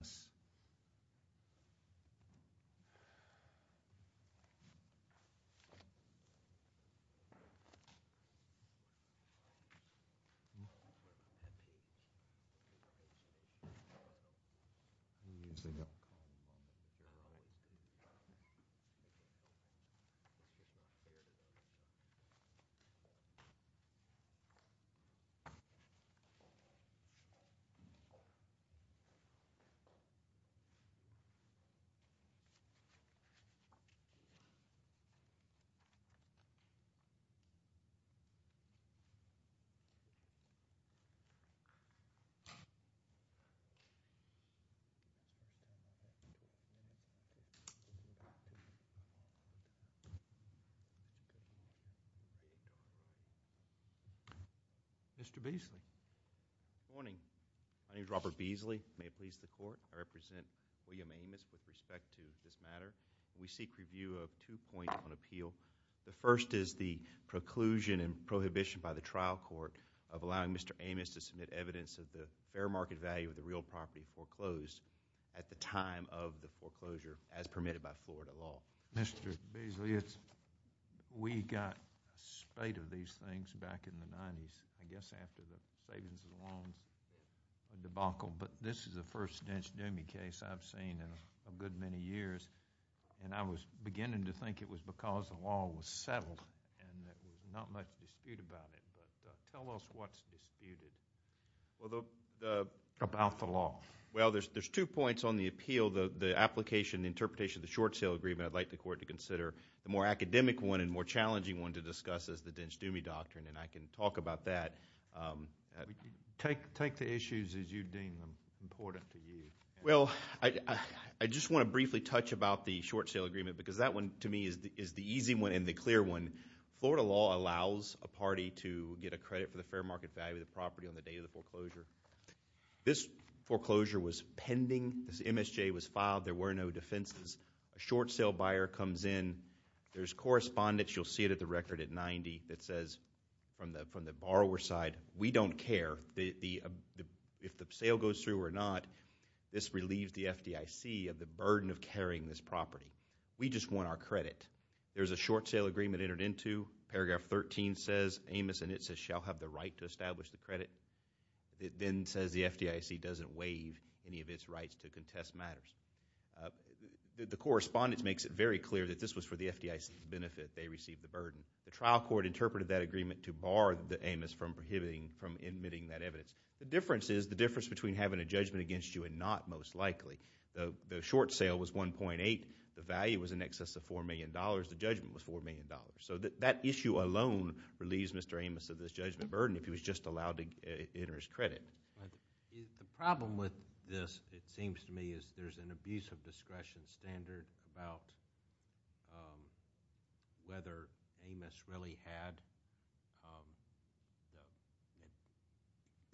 Yes. Mr. Beasley. Good morning, my name is Robert Beasley. I represent William Amos with respect to this matter. We seek review of two points on appeal. The first is the preclusion and prohibition by the trial court of allowing Mr. Amos to submit evidence of the fair market value of the real property foreclosed at the time of the foreclosure as permitted by Florida law. Mr. Beasley, we got a spate of these things back in the 90s, I guess after the savings and loans debacle, but this is the first dinch-doomy case I've seen in a good many years and I was beginning to think it was because the law was settled and there was not much dispute about it. But tell us what's disputed about the law. Well, there's two points on the appeal, the application, the interpretation of the short sale agreement. I'd like the court to consider the more academic one and more challenging one to discuss as the dinch-doomy doctrine and I can talk about that. Take the issues as you deem them important to you. Well, I just want to briefly touch about the short sale agreement because that one to me is the easy one and the clear one. Florida law allows a party to get a credit for the fair market value of the property on the day of the foreclosure. This foreclosure was pending. This MSJ was filed. There were no defenses. A short sale buyer comes in. There's correspondence, you'll see it at the record, at 90, that says from the borrower side, we don't care if the sale goes through or not. This relieves the FDIC of the burden of carrying this property. We just want our credit. There's a short sale agreement entered into. Paragraph 13 says Amos and Itza shall have the right to establish the credit. It then says the FDIC doesn't waive any of its rights to contest matters. The correspondence makes it very clear that this was for the FDIC's benefit. They received the burden. The trial court interpreted that agreement to bar Amos from admitting that evidence. The difference is the difference between having a judgment against you and not most likely. The short sale was 1.8. The value was in excess of $4 million. The judgment was $4 million. That issue alone relieves Mr. Amos of this judgment burden if he was just allowed to enter his credit. The problem with this, it seems to me, is there's an abuse of discretion standard about whether Amos really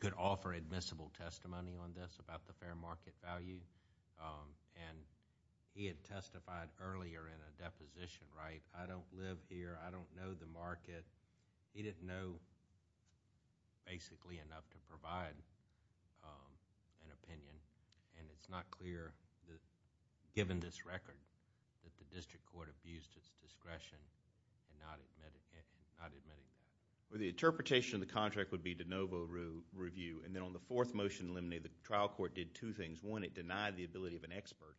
could offer admissible testimony on this about the fair market value. He had testified earlier in a deposition, right? I don't live here. I don't know the market. He didn't know, basically, enough to provide an opinion. It's not clear, given this record, that the district court abused its discretion in not admitting that. The interpretation of the contract would be de novo review. Then on the fourth motion in limine, the trial court did two things. One, it denied the ability of an expert,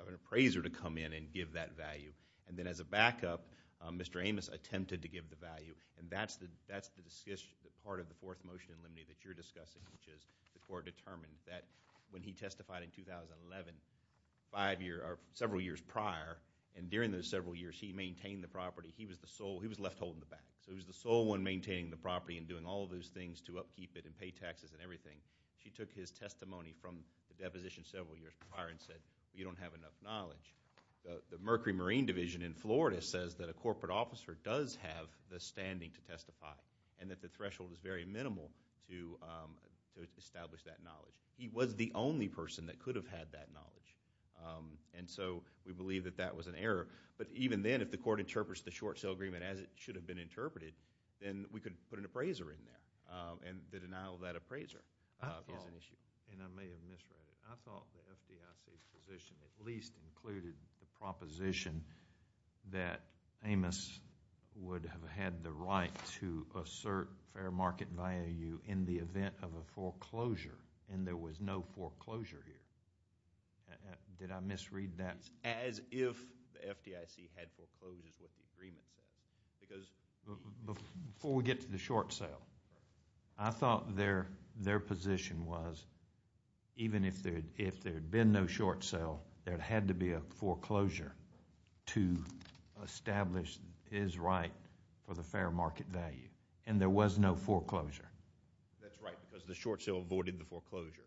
of an appraiser, to come in and give that value. Then as a backup, Mr. Amos attempted to give the value. That's the part of the fourth motion in limine that you're discussing, which is the court determined that when he testified in 2011, several years prior, and during those several years, he maintained the property. He was the sole. He was left holding the bag. He was the sole one maintaining the property and doing all those things to upkeep it and pay taxes and everything. She took his testimony from the deposition several years prior and said, you don't have enough knowledge. The Mercury Marine Division in Florida says that a corporate officer does have the standing to testify and that the threshold is very minimal to establish that knowledge. He was the only person that could have had that knowledge. We believe that that was an error. Even then, if the court interprets the short sale agreement as it should have been interpreted, then we could put an appraiser in there. The denial of that appraiser is an issue. I may have misread it. I thought the FDIC's position at least included the proposition that Amos would have had the right to assert fair market value in the event of a foreclosure, and there was no foreclosure here. Did I misread that? As if the FDIC had foreclosed is what the agreement says. Before we get to the short sale, I thought their position was even if there had been no short sale, there had to be a foreclosure to establish his right for the fair market value, and there was no foreclosure. That's right, because the short sale avoided the foreclosure.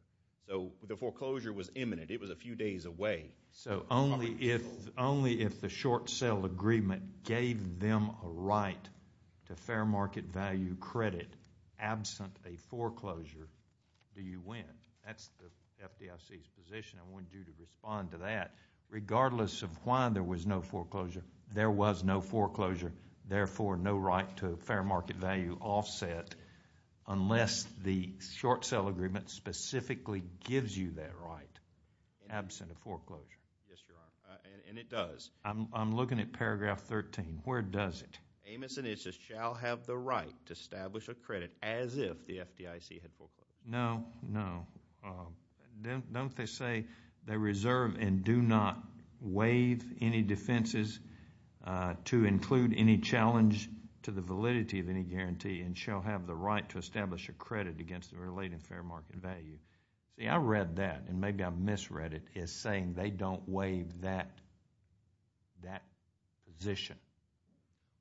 So the foreclosure was imminent. It was a few days away. So only if the short sale agreement gave them a right to fair market value credit absent a foreclosure do you win. That's the FDIC's position. I want you to respond to that. Regardless of why there was no foreclosure, there was no foreclosure, therefore no right to a fair market value offset unless the short sale agreement specifically gives you that right absent a foreclosure. Yes, Your Honor, and it does. I'm looking at paragraph 13. Where does it? Amos and Issa shall have the right to establish a credit as if the FDIC had foreclosed. No, no. Don't they say they reserve and do not waive any defenses to include any challenge to the validity of any guarantee, and shall have the right to establish a credit against the related fair market value? See, I read that, and maybe I misread it as saying they don't waive that position.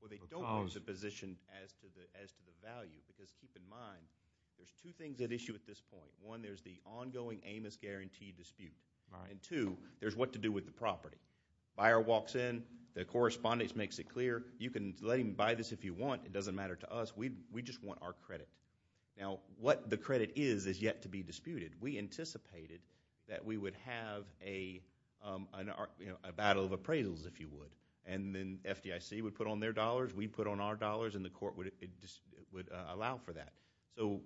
Well, they don't waive the position as to the value because keep in mind there's two things at issue at this point. One, there's the ongoing Amos guarantee dispute, and two, there's what to do with the property. Buyer walks in. The correspondence makes it clear. You can let him buy this if you want. It doesn't matter to us. We just want our credit. Now, what the credit is is yet to be disputed. We anticipated that we would have a battle of appraisals, if you would, and then FDIC would put on their dollars, we'd put on our dollars, and the court would allow for that. So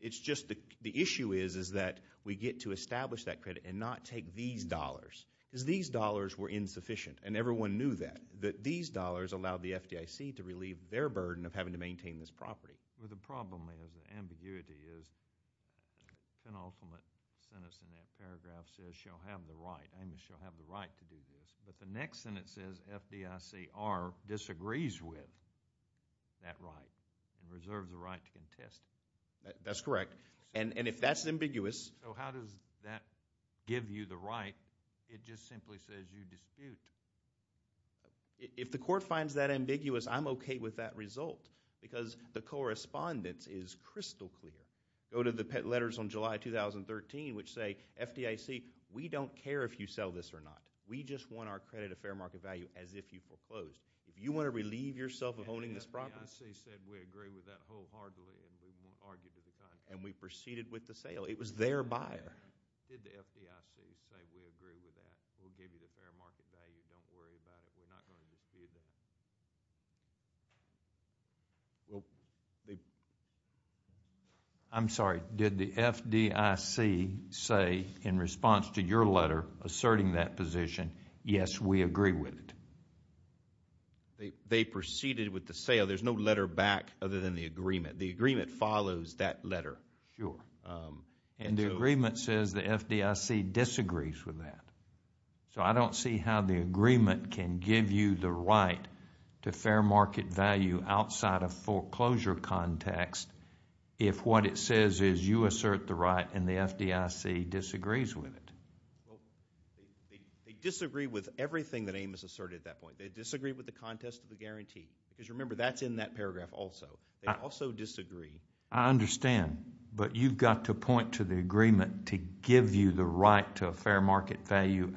it's just the issue is that we get to establish that credit and not take these dollars because these dollars were insufficient, and everyone knew that, that these dollars allowed the FDIC to relieve their burden of having to maintain this property. Well, the problem is the ambiguity is penultimate sentence in that paragraph says she'll have the right. Amos shall have the right to do this, but the next sentence says FDICR disagrees with that right and reserves the right to contest it. That's correct, and if that's ambiguous. So how does that give you the right? It just simply says you dispute. If the court finds that ambiguous, I'm okay with that result because the correspondence is crystal clear. Go to the letters on July 2013 which say, FDIC, we don't care if you sell this or not. We just want our credit of fair market value as if you foreclosed. If you want to relieve yourself of owning this property. And the FDIC said we agree with that wholeheartedly and we won't argue to the contrary. And we proceeded with the sale. It was their buyer. Did the FDIC say we agree with that? We'll give you the fair market value. Don't worry about it. We're not going to dispute that. I'm sorry. Did the FDIC say in response to your letter asserting that position, yes, we agree with it? They proceeded with the sale. There's no letter back other than the agreement. The agreement follows that letter. Sure. And the agreement says the FDIC disagrees with that. So I don't see how the agreement can give you the right to fair market value outside of foreclosure context if what it says is you assert the right and the FDIC disagrees with it. They disagree with everything that Amos asserted at that point. They disagree with the contest of the guarantee. Because remember, that's in that paragraph also. They also disagree. I understand, but you've got to point to the agreement to give you the right to a fair market value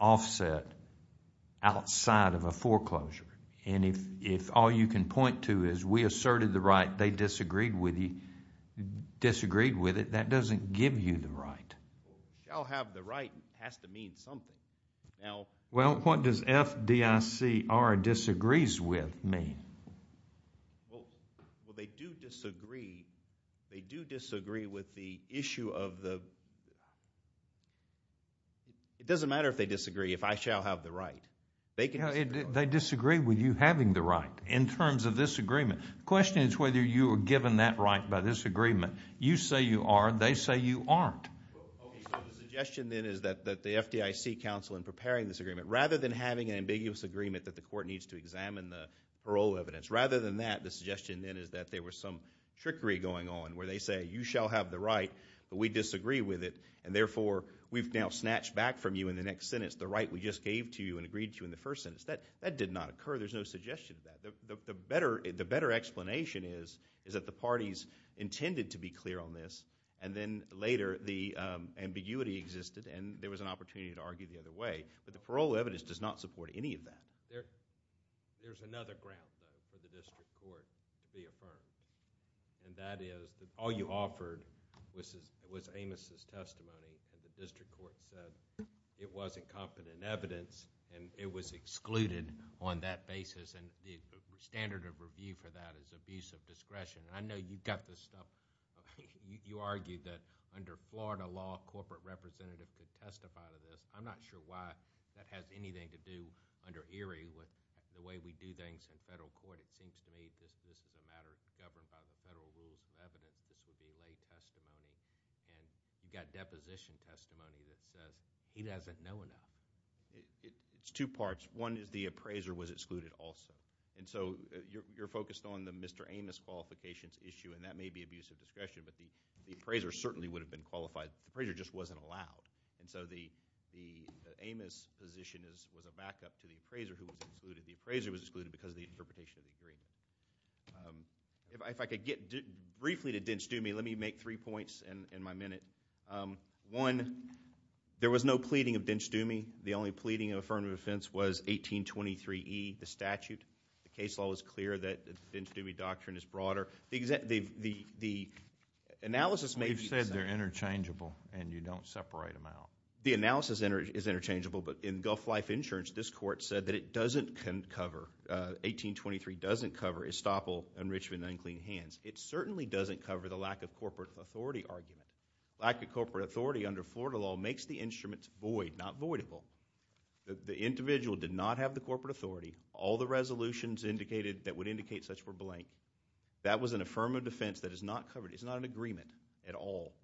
offset outside of a foreclosure. And if all you can point to is we asserted the right, they disagreed with it, that doesn't give you the right. Shall have the right has to mean something. Well, what does FDICR disagrees with mean? Well, they do disagree. They do disagree with the issue of the – it doesn't matter if they disagree, if I shall have the right. They disagree with you having the right in terms of this agreement. The question is whether you were given that right by this agreement. You say you are. They say you aren't. Okay, so the suggestion then is that the FDIC counsel in preparing this agreement, rather than having an ambiguous agreement that the court needs to examine the parole evidence, rather than that, the suggestion then is that there was some trickery going on, where they say you shall have the right, but we disagree with it, and therefore we've now snatched back from you in the next sentence the right we just gave to you and agreed to in the first sentence. That did not occur. There's no suggestion of that. The better explanation is that the parties intended to be clear on this, and then later the ambiguity existed, and there was an opportunity to argue the other way. But the parole evidence does not support any of that. There's another ground, though, for the district court to be affirmed, and that is that all you offered was Amos' testimony, and the district court said it was incompetent evidence, and it was excluded on that basis. The standard of review for that is abuse of discretion. I know you've got this stuff. You argued that under Florida law, a corporate representative could testify to this. I'm not sure why that has anything to do under Erie with the way we do things in federal court. It seems to me this is a matter governed by the federal rules of evidence. This would be lay testimony, and you've got deposition testimony that says he doesn't know enough. It's two parts. One is the appraiser was excluded also, and so you're focused on the Mr. Amos qualifications issue, and that may be abuse of discretion, but the appraiser certainly would have been qualified. The appraiser just wasn't allowed. And so the Amos position was a backup to the appraiser who was excluded. The appraiser was excluded because of the interpretation of the agreement. If I could get briefly to Dentsch-Dumy, let me make three points in my minute. One, there was no pleading of Dentsch-Dumy. The only pleading of affirmative offense was 1823E, the statute. The case law was clear that the Dentsch-Dumy doctrine is broader. The analysis may be the same. They're interchangeable, and you don't separate them out. The analysis is interchangeable, but in Gulf Life Insurance, this court said that it doesn't cover, 1823 doesn't cover estoppel, enrichment, and unclean hands. It certainly doesn't cover the lack of corporate authority argument. Lack of corporate authority under Florida law makes the instruments void, not voidable. The individual did not have the corporate authority. All the resolutions that would indicate such were blank. That was an affirmative defense that is not covered.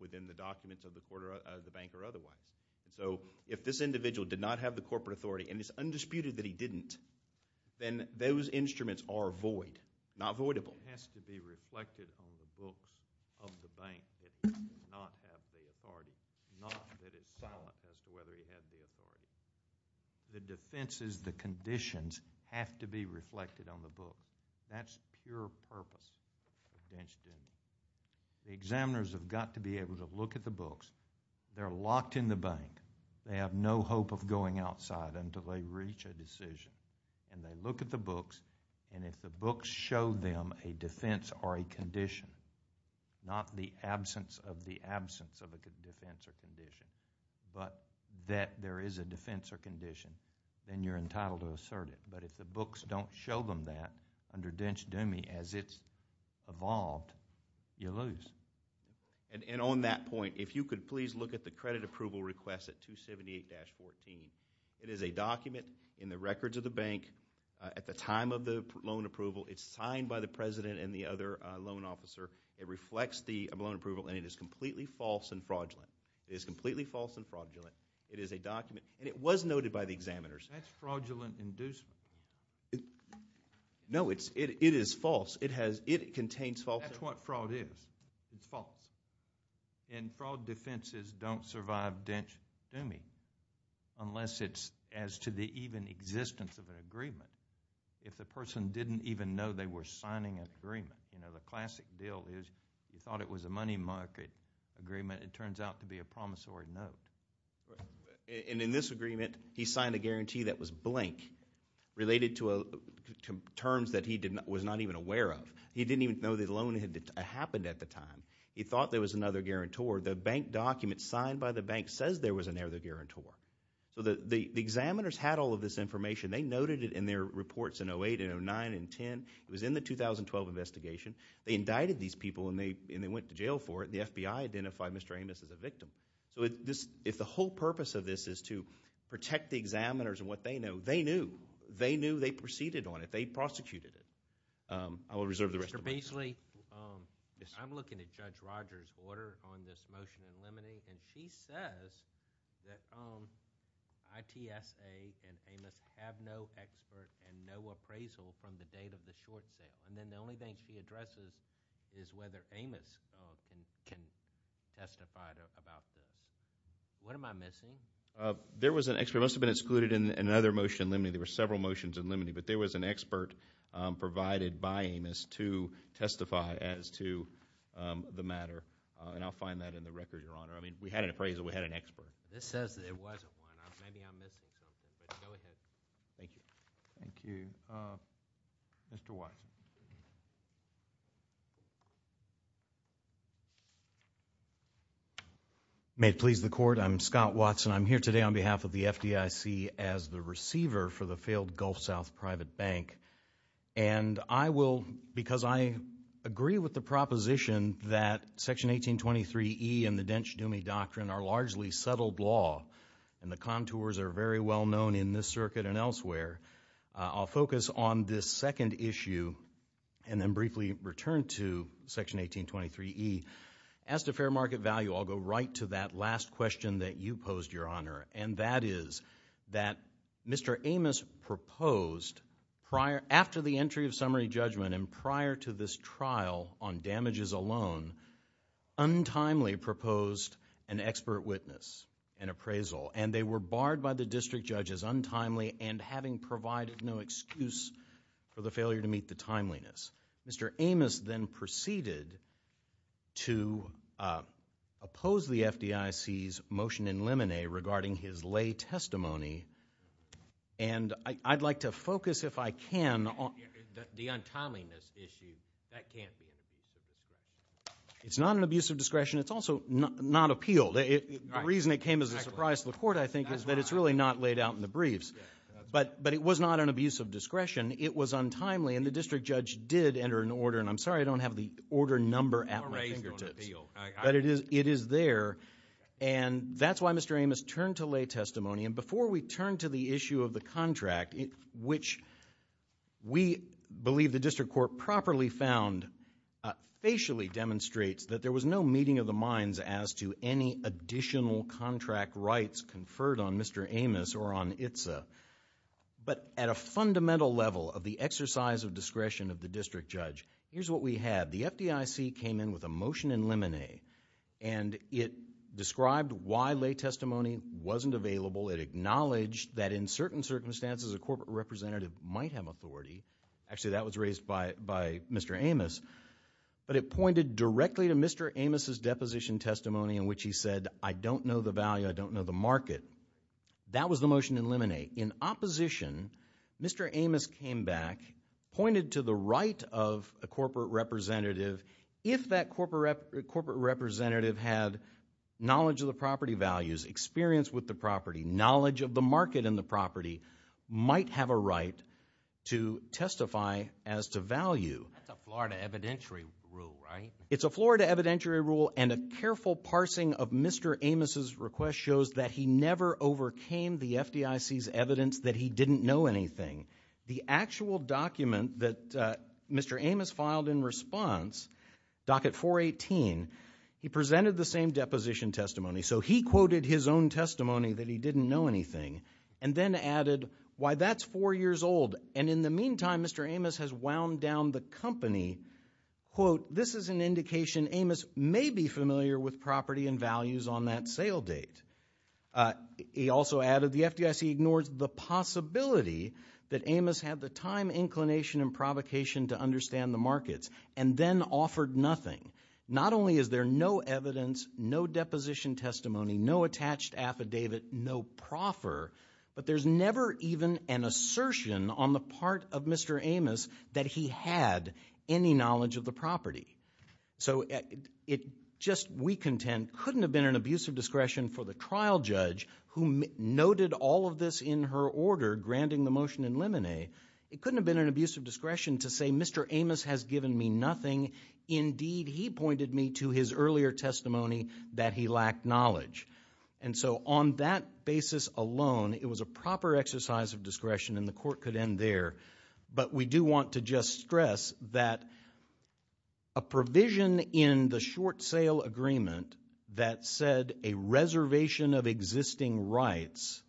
within the documents of the bank or otherwise. So if this individual did not have the corporate authority, and it's undisputed that he didn't, then those instruments are void, not voidable. It has to be reflected on the books of the bank that he did not have the authority, not that it's silent as to whether he had the authority. The defenses, the conditions have to be reflected on the book. That's pure purpose of Dentsch-Dumy. The examiners have got to be able to look at the books. They're locked in the bank. They have no hope of going outside until they reach a decision. They look at the books, and if the books show them a defense or a condition, not the absence of the absence of a defense or condition, but that there is a defense or condition, then you're entitled to assert it. But if the books don't show them that under Dentsch-Dumy as it's evolved, you lose. And on that point, if you could please look at the credit approval request at 278-14. It is a document in the records of the bank at the time of the loan approval. It's signed by the president and the other loan officer. It reflects the loan approval, and it is completely false and fraudulent. It is completely false and fraudulent. It is a document, and it was noted by the examiners. That's fraudulent inducement. No, it is false. It contains false evidence. That's what fraud is. It's false. And fraud defenses don't survive Dentsch-Dumy unless it's as to the even existence of an agreement. If the person didn't even know they were signing an agreement, the classic deal is you thought it was a money market agreement. It turns out to be a promissory note. And in this agreement, he signed a guarantee that was blank, related to terms that he was not even aware of. He didn't even know the loan had happened at the time. He thought there was another guarantor. The bank document signed by the bank says there was another guarantor. So the examiners had all of this information. They noted it in their reports in 08 and 09 and 10. It was in the 2012 investigation. They indicted these people, and they went to jail for it. The FBI identified Mr. Amos as a victim. So if the whole purpose of this is to protect the examiners and what they know, they knew. They knew. They proceeded on it. They prosecuted it. I will reserve the rest of my time. Mr. Beasley, I'm looking at Judge Rogers' order on this motion in limine. And she says that ITSA and Amos have no expert and no appraisal from the date of the short sale. And then the only thing she addresses is whether Amos can testify about this. What am I missing? There was an expert. It must have been excluded in another motion in limine. There were several motions in limine. But there was an expert provided by Amos to testify as to the matter. And I'll find that in the record, Your Honor. I mean, we had an appraisal. We had an expert. This says that it wasn't one. Maybe I'm missing something. But go ahead. Thank you. Thank you. Mr. Watson. May it please the Court, I'm Scott Watson. I'm here today on behalf of the FDIC as the receiver for the failed Gulf South Private Bank. And I will, because I agree with the proposition that Section 1823E and the Dench-Dumey Doctrine are largely settled law, and the contours are very well known in this circuit and elsewhere, I'll focus on this second issue and then briefly return to Section 1823E. As to fair market value, I'll go right to that last question that you posed, Your Honor, and that is that Mr. Amos proposed after the entry of summary judgment and prior to this trial on damages alone, untimely proposed an expert witness, an appraisal. And they were barred by the district judge as untimely and having provided no excuse for the failure to meet the timeliness. Mr. Amos then proceeded to oppose the FDIC's motion in Lemonet regarding his lay testimony. And I'd like to focus, if I can, on the untimeliness issue. That can't be an abuse of discretion. It's not an abuse of discretion. It's also not appealed. The reason it came as a surprise to the court, I think, is that it's really not laid out in the briefs. But it was not an abuse of discretion. It was untimely, and the district judge did enter an order. And I'm sorry I don't have the order number at my fingertips. But it is there. And that's why Mr. Amos turned to lay testimony. And before we turn to the issue of the contract, which we believe the district court properly found facially demonstrates that there was no meeting of the minds as to any additional contract rights conferred on Mr. Amos or on ITSA. But at a fundamental level of the exercise of discretion of the district judge, here's what we had. The FDIC came in with a motion in Lemonet, and it described why lay testimony wasn't available. It acknowledged that in certain circumstances a corporate representative might have authority. Actually, that was raised by Mr. Amos. But it pointed directly to Mr. Amos' deposition testimony in which he said, I don't know the value, I don't know the market. That was the motion in Lemonet. In opposition, Mr. Amos came back, pointed to the right of a corporate representative, if that corporate representative had knowledge of the property values, experience with the property, knowledge of the market and the property, might have a right to testify as to value. That's a Florida evidentiary rule, right? It's a Florida evidentiary rule, and a careful parsing of Mr. Amos' request shows that he never overcame the FDIC's evidence that he didn't know anything. The actual document that Mr. Amos filed in response, Docket 418, he presented the same deposition testimony. So he quoted his own testimony that he didn't know anything and then added why that's four years old. And in the meantime, Mr. Amos has wound down the company. Quote, this is an indication Amos may be familiar with property and values on that sale date. He also added the FDIC ignores the possibility that Amos had the time, inclination, and provocation to understand the markets and then offered nothing. Not only is there no evidence, no deposition testimony, no attached affidavit, no proffer, but there's never even an assertion on the part of Mr. Amos that he had any knowledge of the property. So it just, we contend, couldn't have been an abuse of discretion for the trial judge who noted all of this in her order granting the motion in limine. It couldn't have been an abuse of discretion to say Mr. Amos has given me nothing. Indeed, he pointed me to his earlier testimony that he lacked knowledge. And so on that basis alone, it was a proper exercise of discretion, and the court could end there. But we do want to just stress that a provision in the short sale agreement that said a reservation of existing rights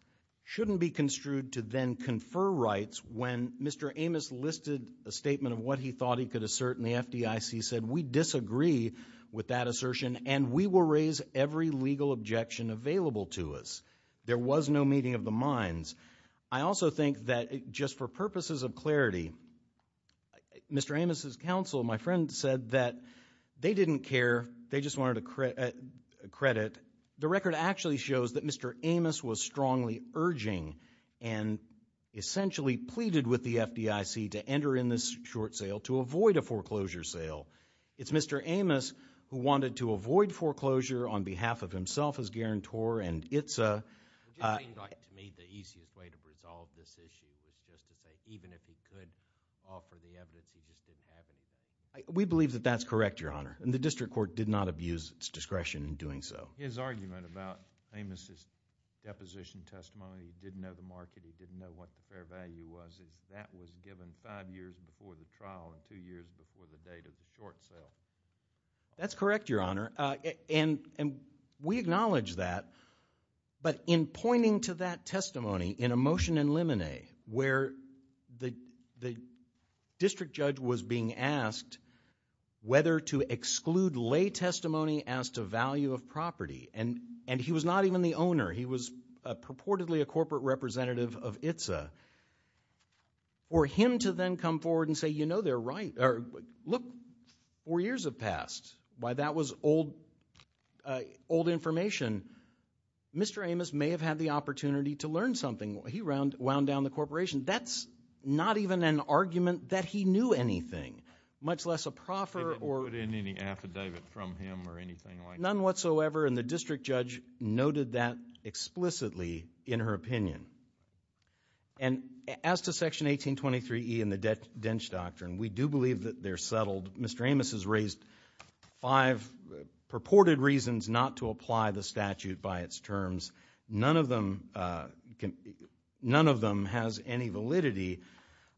shouldn't be construed to then confer rights when Mr. Amos listed a statement of what he thought he could assert, and the FDIC said we disagree with that assertion and we will raise every legal objection available to us. There was no meeting of the minds. I also think that just for purposes of clarity, Mr. Amos' counsel, my friend, said that they didn't care. They just wanted a credit. The record actually shows that Mr. Amos was strongly urging and essentially pleaded with the FDIC to enter in this short sale to avoid a foreclosure sale. It's Mr. Amos who wanted to avoid foreclosure on behalf of himself as guarantor, and it's a— Would you think like to me the easiest way to resolve this issue was just to say even if he could offer the evidence, he just didn't have any? We believe that that's correct, Your Honor, and the district court did not abuse its discretion in doing so. His argument about Amos' deposition testimony, he didn't know the market, he didn't know what the fair value was, that was given five years before the trial and two years before the date of the short sale. That's correct, Your Honor, and we acknowledge that. But in pointing to that testimony in a motion in Lemonet where the district judge was being asked whether to exclude lay testimony as to value of property, and he was not even the owner. He was purportedly a corporate representative of ITSA. For him to then come forward and say, you know, they're right, or look, four years have passed. Why, that was old information. Mr. Amos may have had the opportunity to learn something. He wound down the corporation. That's not even an argument that he knew anything, much less a proffer or— They didn't put in any affidavit from him or anything like that. None whatsoever, and the district judge noted that explicitly in her opinion. And as to Section 1823E and the Dentsch Doctrine, we do believe that they're settled. Mr. Amos has raised five purported reasons not to apply the statute by its terms. None of them has any validity.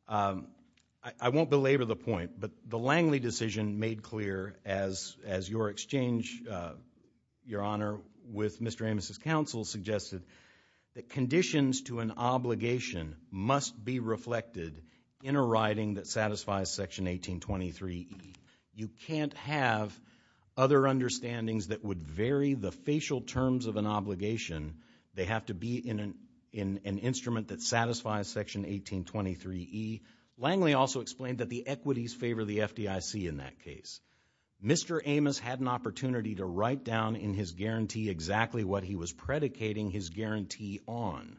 I won't belabor the point, but the Langley decision made clear as your exchange, Your Honor, with Mr. Amos' counsel suggested that conditions to an obligation must be reflected in a writing that satisfies Section 1823E. You can't have other understandings that would vary the facial terms of an obligation. They have to be in an instrument that satisfies Section 1823E. Langley also explained that the equities favor the FDIC in that case. Mr. Amos had an opportunity to write down in his guarantee exactly what he was predicating his guarantee on.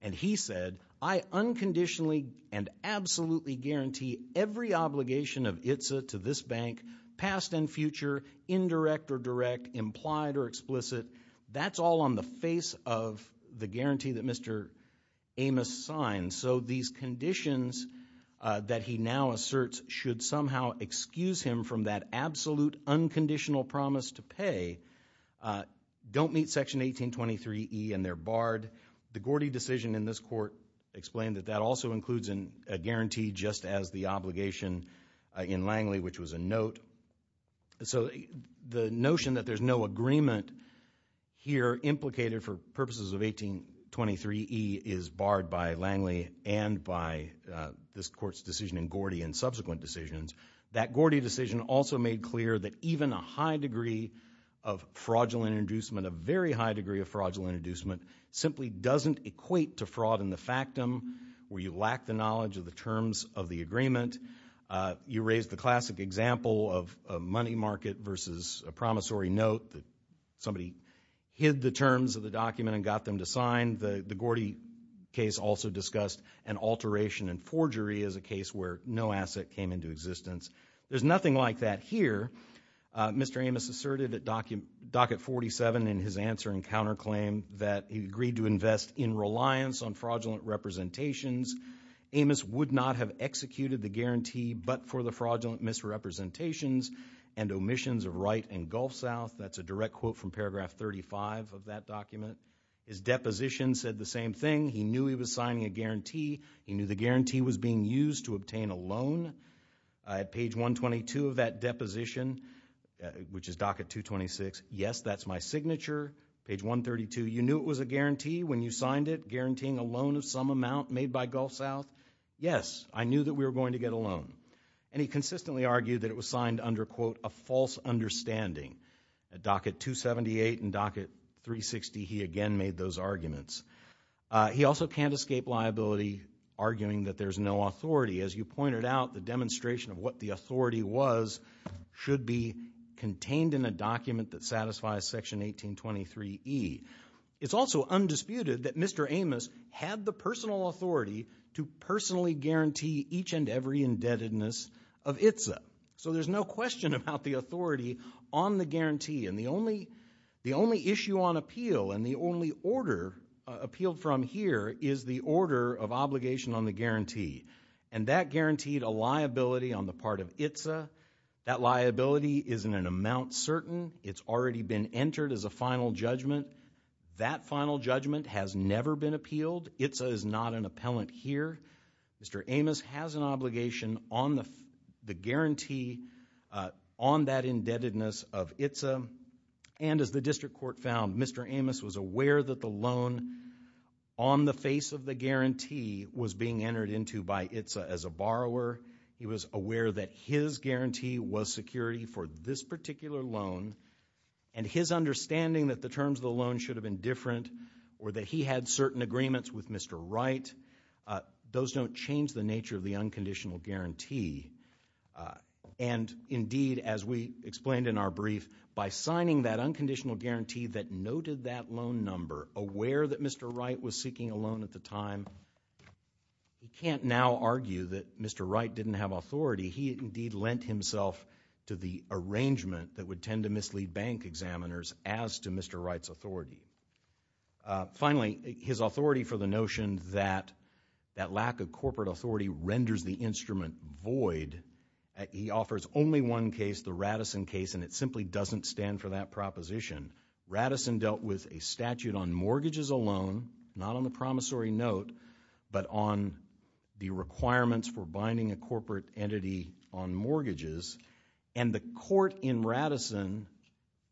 And he said, I unconditionally and absolutely guarantee every obligation of ITSA to this bank, past and future, indirect or direct, implied or explicit. That's all on the face of the guarantee that Mr. Amos signed. So these conditions that he now asserts should somehow excuse him from that absolute unconditional promise to pay don't meet Section 1823E and they're barred. The Gordy decision in this court explained that that also includes a guarantee just as the obligation in Langley, which was a note. So the notion that there's no agreement here implicated for purposes of 1823E is barred by Langley and by this court's decision in Gordy and subsequent decisions. That Gordy decision also made clear that even a high degree of fraudulent inducement, a very high degree of fraudulent inducement, simply doesn't equate to fraud in the factum where you lack the knowledge of the terms of the agreement. You raised the classic example of a money market versus a promissory note that somebody hid the terms of the document and got them to sign. The Gordy case also discussed an alteration in forgery as a case where no asset came into existence. There's nothing like that here. Mr. Amos asserted at docket 47 in his answer and counterclaim that he agreed to invest in reliance on fraudulent representations. Amos would not have executed the guarantee but for the fraudulent misrepresentations and omissions of Wright and Gulf South. That's a direct quote from paragraph 35 of that document. His deposition said the same thing. He knew he was signing a guarantee. He knew the guarantee was being used to obtain a loan. At page 122 of that deposition, which is docket 226, yes, that's my signature, page 132. You knew it was a guarantee when you signed it, guaranteeing a loan of some amount made by Gulf South? Yes, I knew that we were going to get a loan. And he consistently argued that it was signed under, quote, a false understanding. At docket 278 and docket 360, he again made those arguments. He also can't escape liability arguing that there's no authority. As you pointed out, the demonstration of what the authority was should be contained in a document that satisfies section 1823E. It's also undisputed that Mr. Amos had the personal authority to personally guarantee each and every indebtedness of ITSA. So there's no question about the authority on the guarantee. And the only issue on appeal and the only order appealed from here is the order of obligation on the guarantee. And that guaranteed a liability on the part of ITSA. That liability is in an amount certain. It's already been entered as a final judgment. That final judgment has never been appealed. ITSA is not an appellant here. Mr. Amos has an obligation on the guarantee on that indebtedness of ITSA. And as the district court found, Mr. Amos was aware that the loan on the face of the guarantee was being entered into by ITSA as a borrower. He was aware that his guarantee was security for this particular loan. And his understanding that the terms of the loan should have been different or that he had certain agreements with Mr. Wright, those don't change the nature of the unconditional guarantee. And indeed, as we explained in our brief, by signing that unconditional guarantee that noted that loan number, aware that Mr. Wright was seeking a loan at the time, he can't now argue that Mr. Wright didn't have authority. He indeed lent himself to the arrangement that would tend to mislead bank examiners as to Mr. Wright's authority. Finally, his authority for the notion that that lack of corporate authority renders the instrument void. He offers only one case, the Radisson case, and it simply doesn't stand for that proposition. Radisson dealt with a statute on mortgages alone, not on the promissory note, but on the requirements for binding a corporate entity on mortgages. And the court in Radisson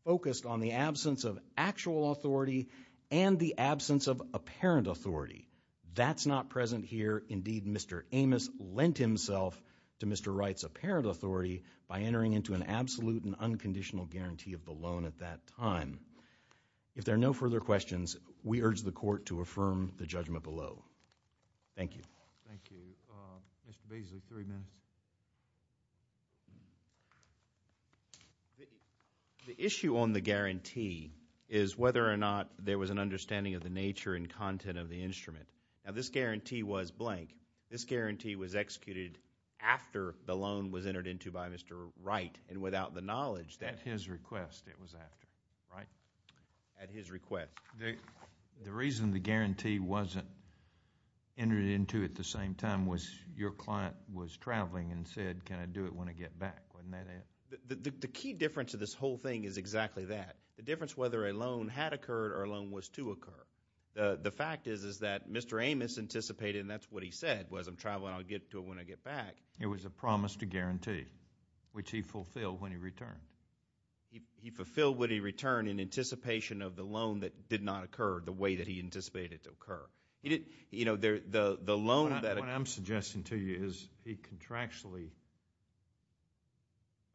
focused on the absence of actual authority and the absence of apparent authority. That's not present here. Indeed, Mr. Amos lent himself to Mr. Wright's apparent authority by entering into an absolute and unconditional guarantee of the loan at that time. If there are no further questions, we urge the court to affirm the judgment below. Thank you. Thank you. Mr. Beasley, three minutes. The issue on the guarantee is whether or not there was an understanding of the nature and content of the instrument. Now, this guarantee was blank. This guarantee was executed after the loan was entered into by Mr. Wright and without the knowledge that— At his request it was after, right? At his request. The reason the guarantee wasn't entered into at the same time was your client was traveling and said, can I do it when I get back, wasn't that it? The key difference of this whole thing is exactly that. The difference whether a loan had occurred or a loan was to occur. The fact is that Mr. Amos anticipated, and that's what he said, was I'm traveling, I'll get to it when I get back. It was a promise to guarantee, which he fulfilled when he returned. He fulfilled when he returned in anticipation of the loan that did not occur the way that he anticipated it to occur. The loan that— What I'm suggesting to you is he contractually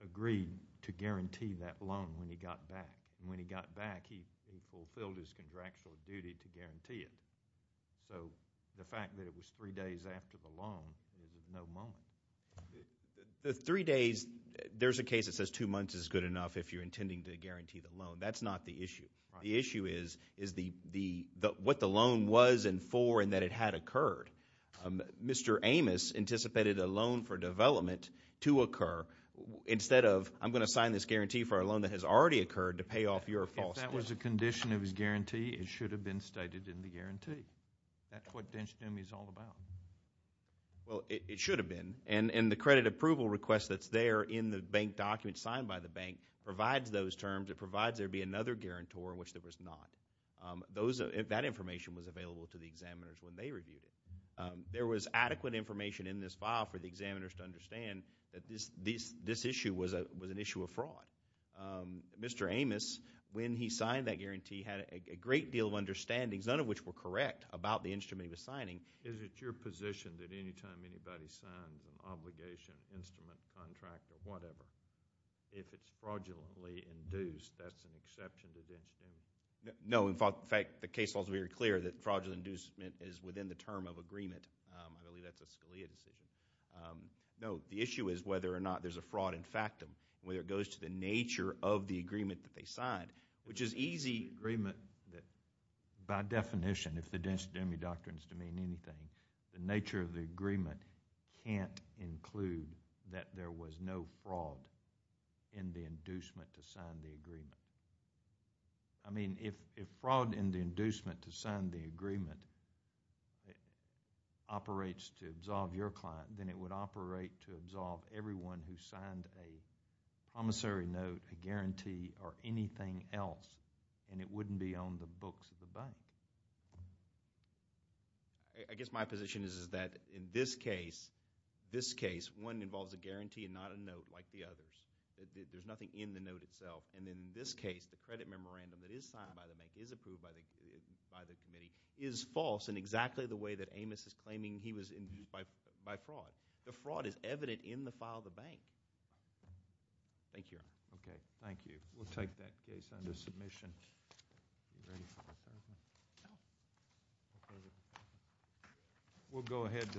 agreed to guarantee that loan when he got back, and when he got back he fulfilled his contractual duty to guarantee it. So the fact that it was three days after the loan is at no moment. The three days, there's a case that says two months is good enough if you're intending to guarantee the loan. That's not the issue. The issue is what the loan was and for and that it had occurred. Mr. Amos anticipated a loan for development to occur instead of, I'm going to sign this guarantee for a loan that has already occurred to pay off your false— If that was a condition of his guarantee, it should have been stated in the guarantee. That's what densitum is all about. Well, it should have been, and the credit approval request that's there in the bank document signed by the bank provides those terms. It provides there be another guarantor in which there was not. That information was available to the examiners when they reviewed it. There was adequate information in this file for the examiners to understand that this issue was an issue of fraud. Mr. Amos, when he signed that guarantee, had a great deal of understandings, none of which were correct about the instrument he was signing. Is it your position that any time anybody signs an obligation, instrument, contract, or whatever, if it's fraudulently induced, that's an exception to densitum? No, in fact, the case was very clear that fraudulent inducement is within the term of agreement. I believe that's a Scalia decision. No, the issue is whether or not there's a fraud in factum, whether it goes to the nature of the agreement that they signed, which is easy— By definition, if the densitum doctrines demean anything, the nature of the agreement can't include that there was no fraud in the inducement to sign the agreement. If fraud in the inducement to sign the agreement operates to absolve your client, then it would operate to absolve everyone who signed a promissory note, a guarantee, or anything else, and it wouldn't be on the books of the bank. I guess my position is that in this case, one involves a guarantee and not a note like the others. There's nothing in the note itself. And in this case, the credit memorandum that is signed by the bank, is approved by the committee, is false in exactly the way that Amos is claiming he was induced by fraud. The fraud is evident in the file of the bank. Thank you, Your Honor. Okay, thank you. We'll take that case under submission. We'll go ahead.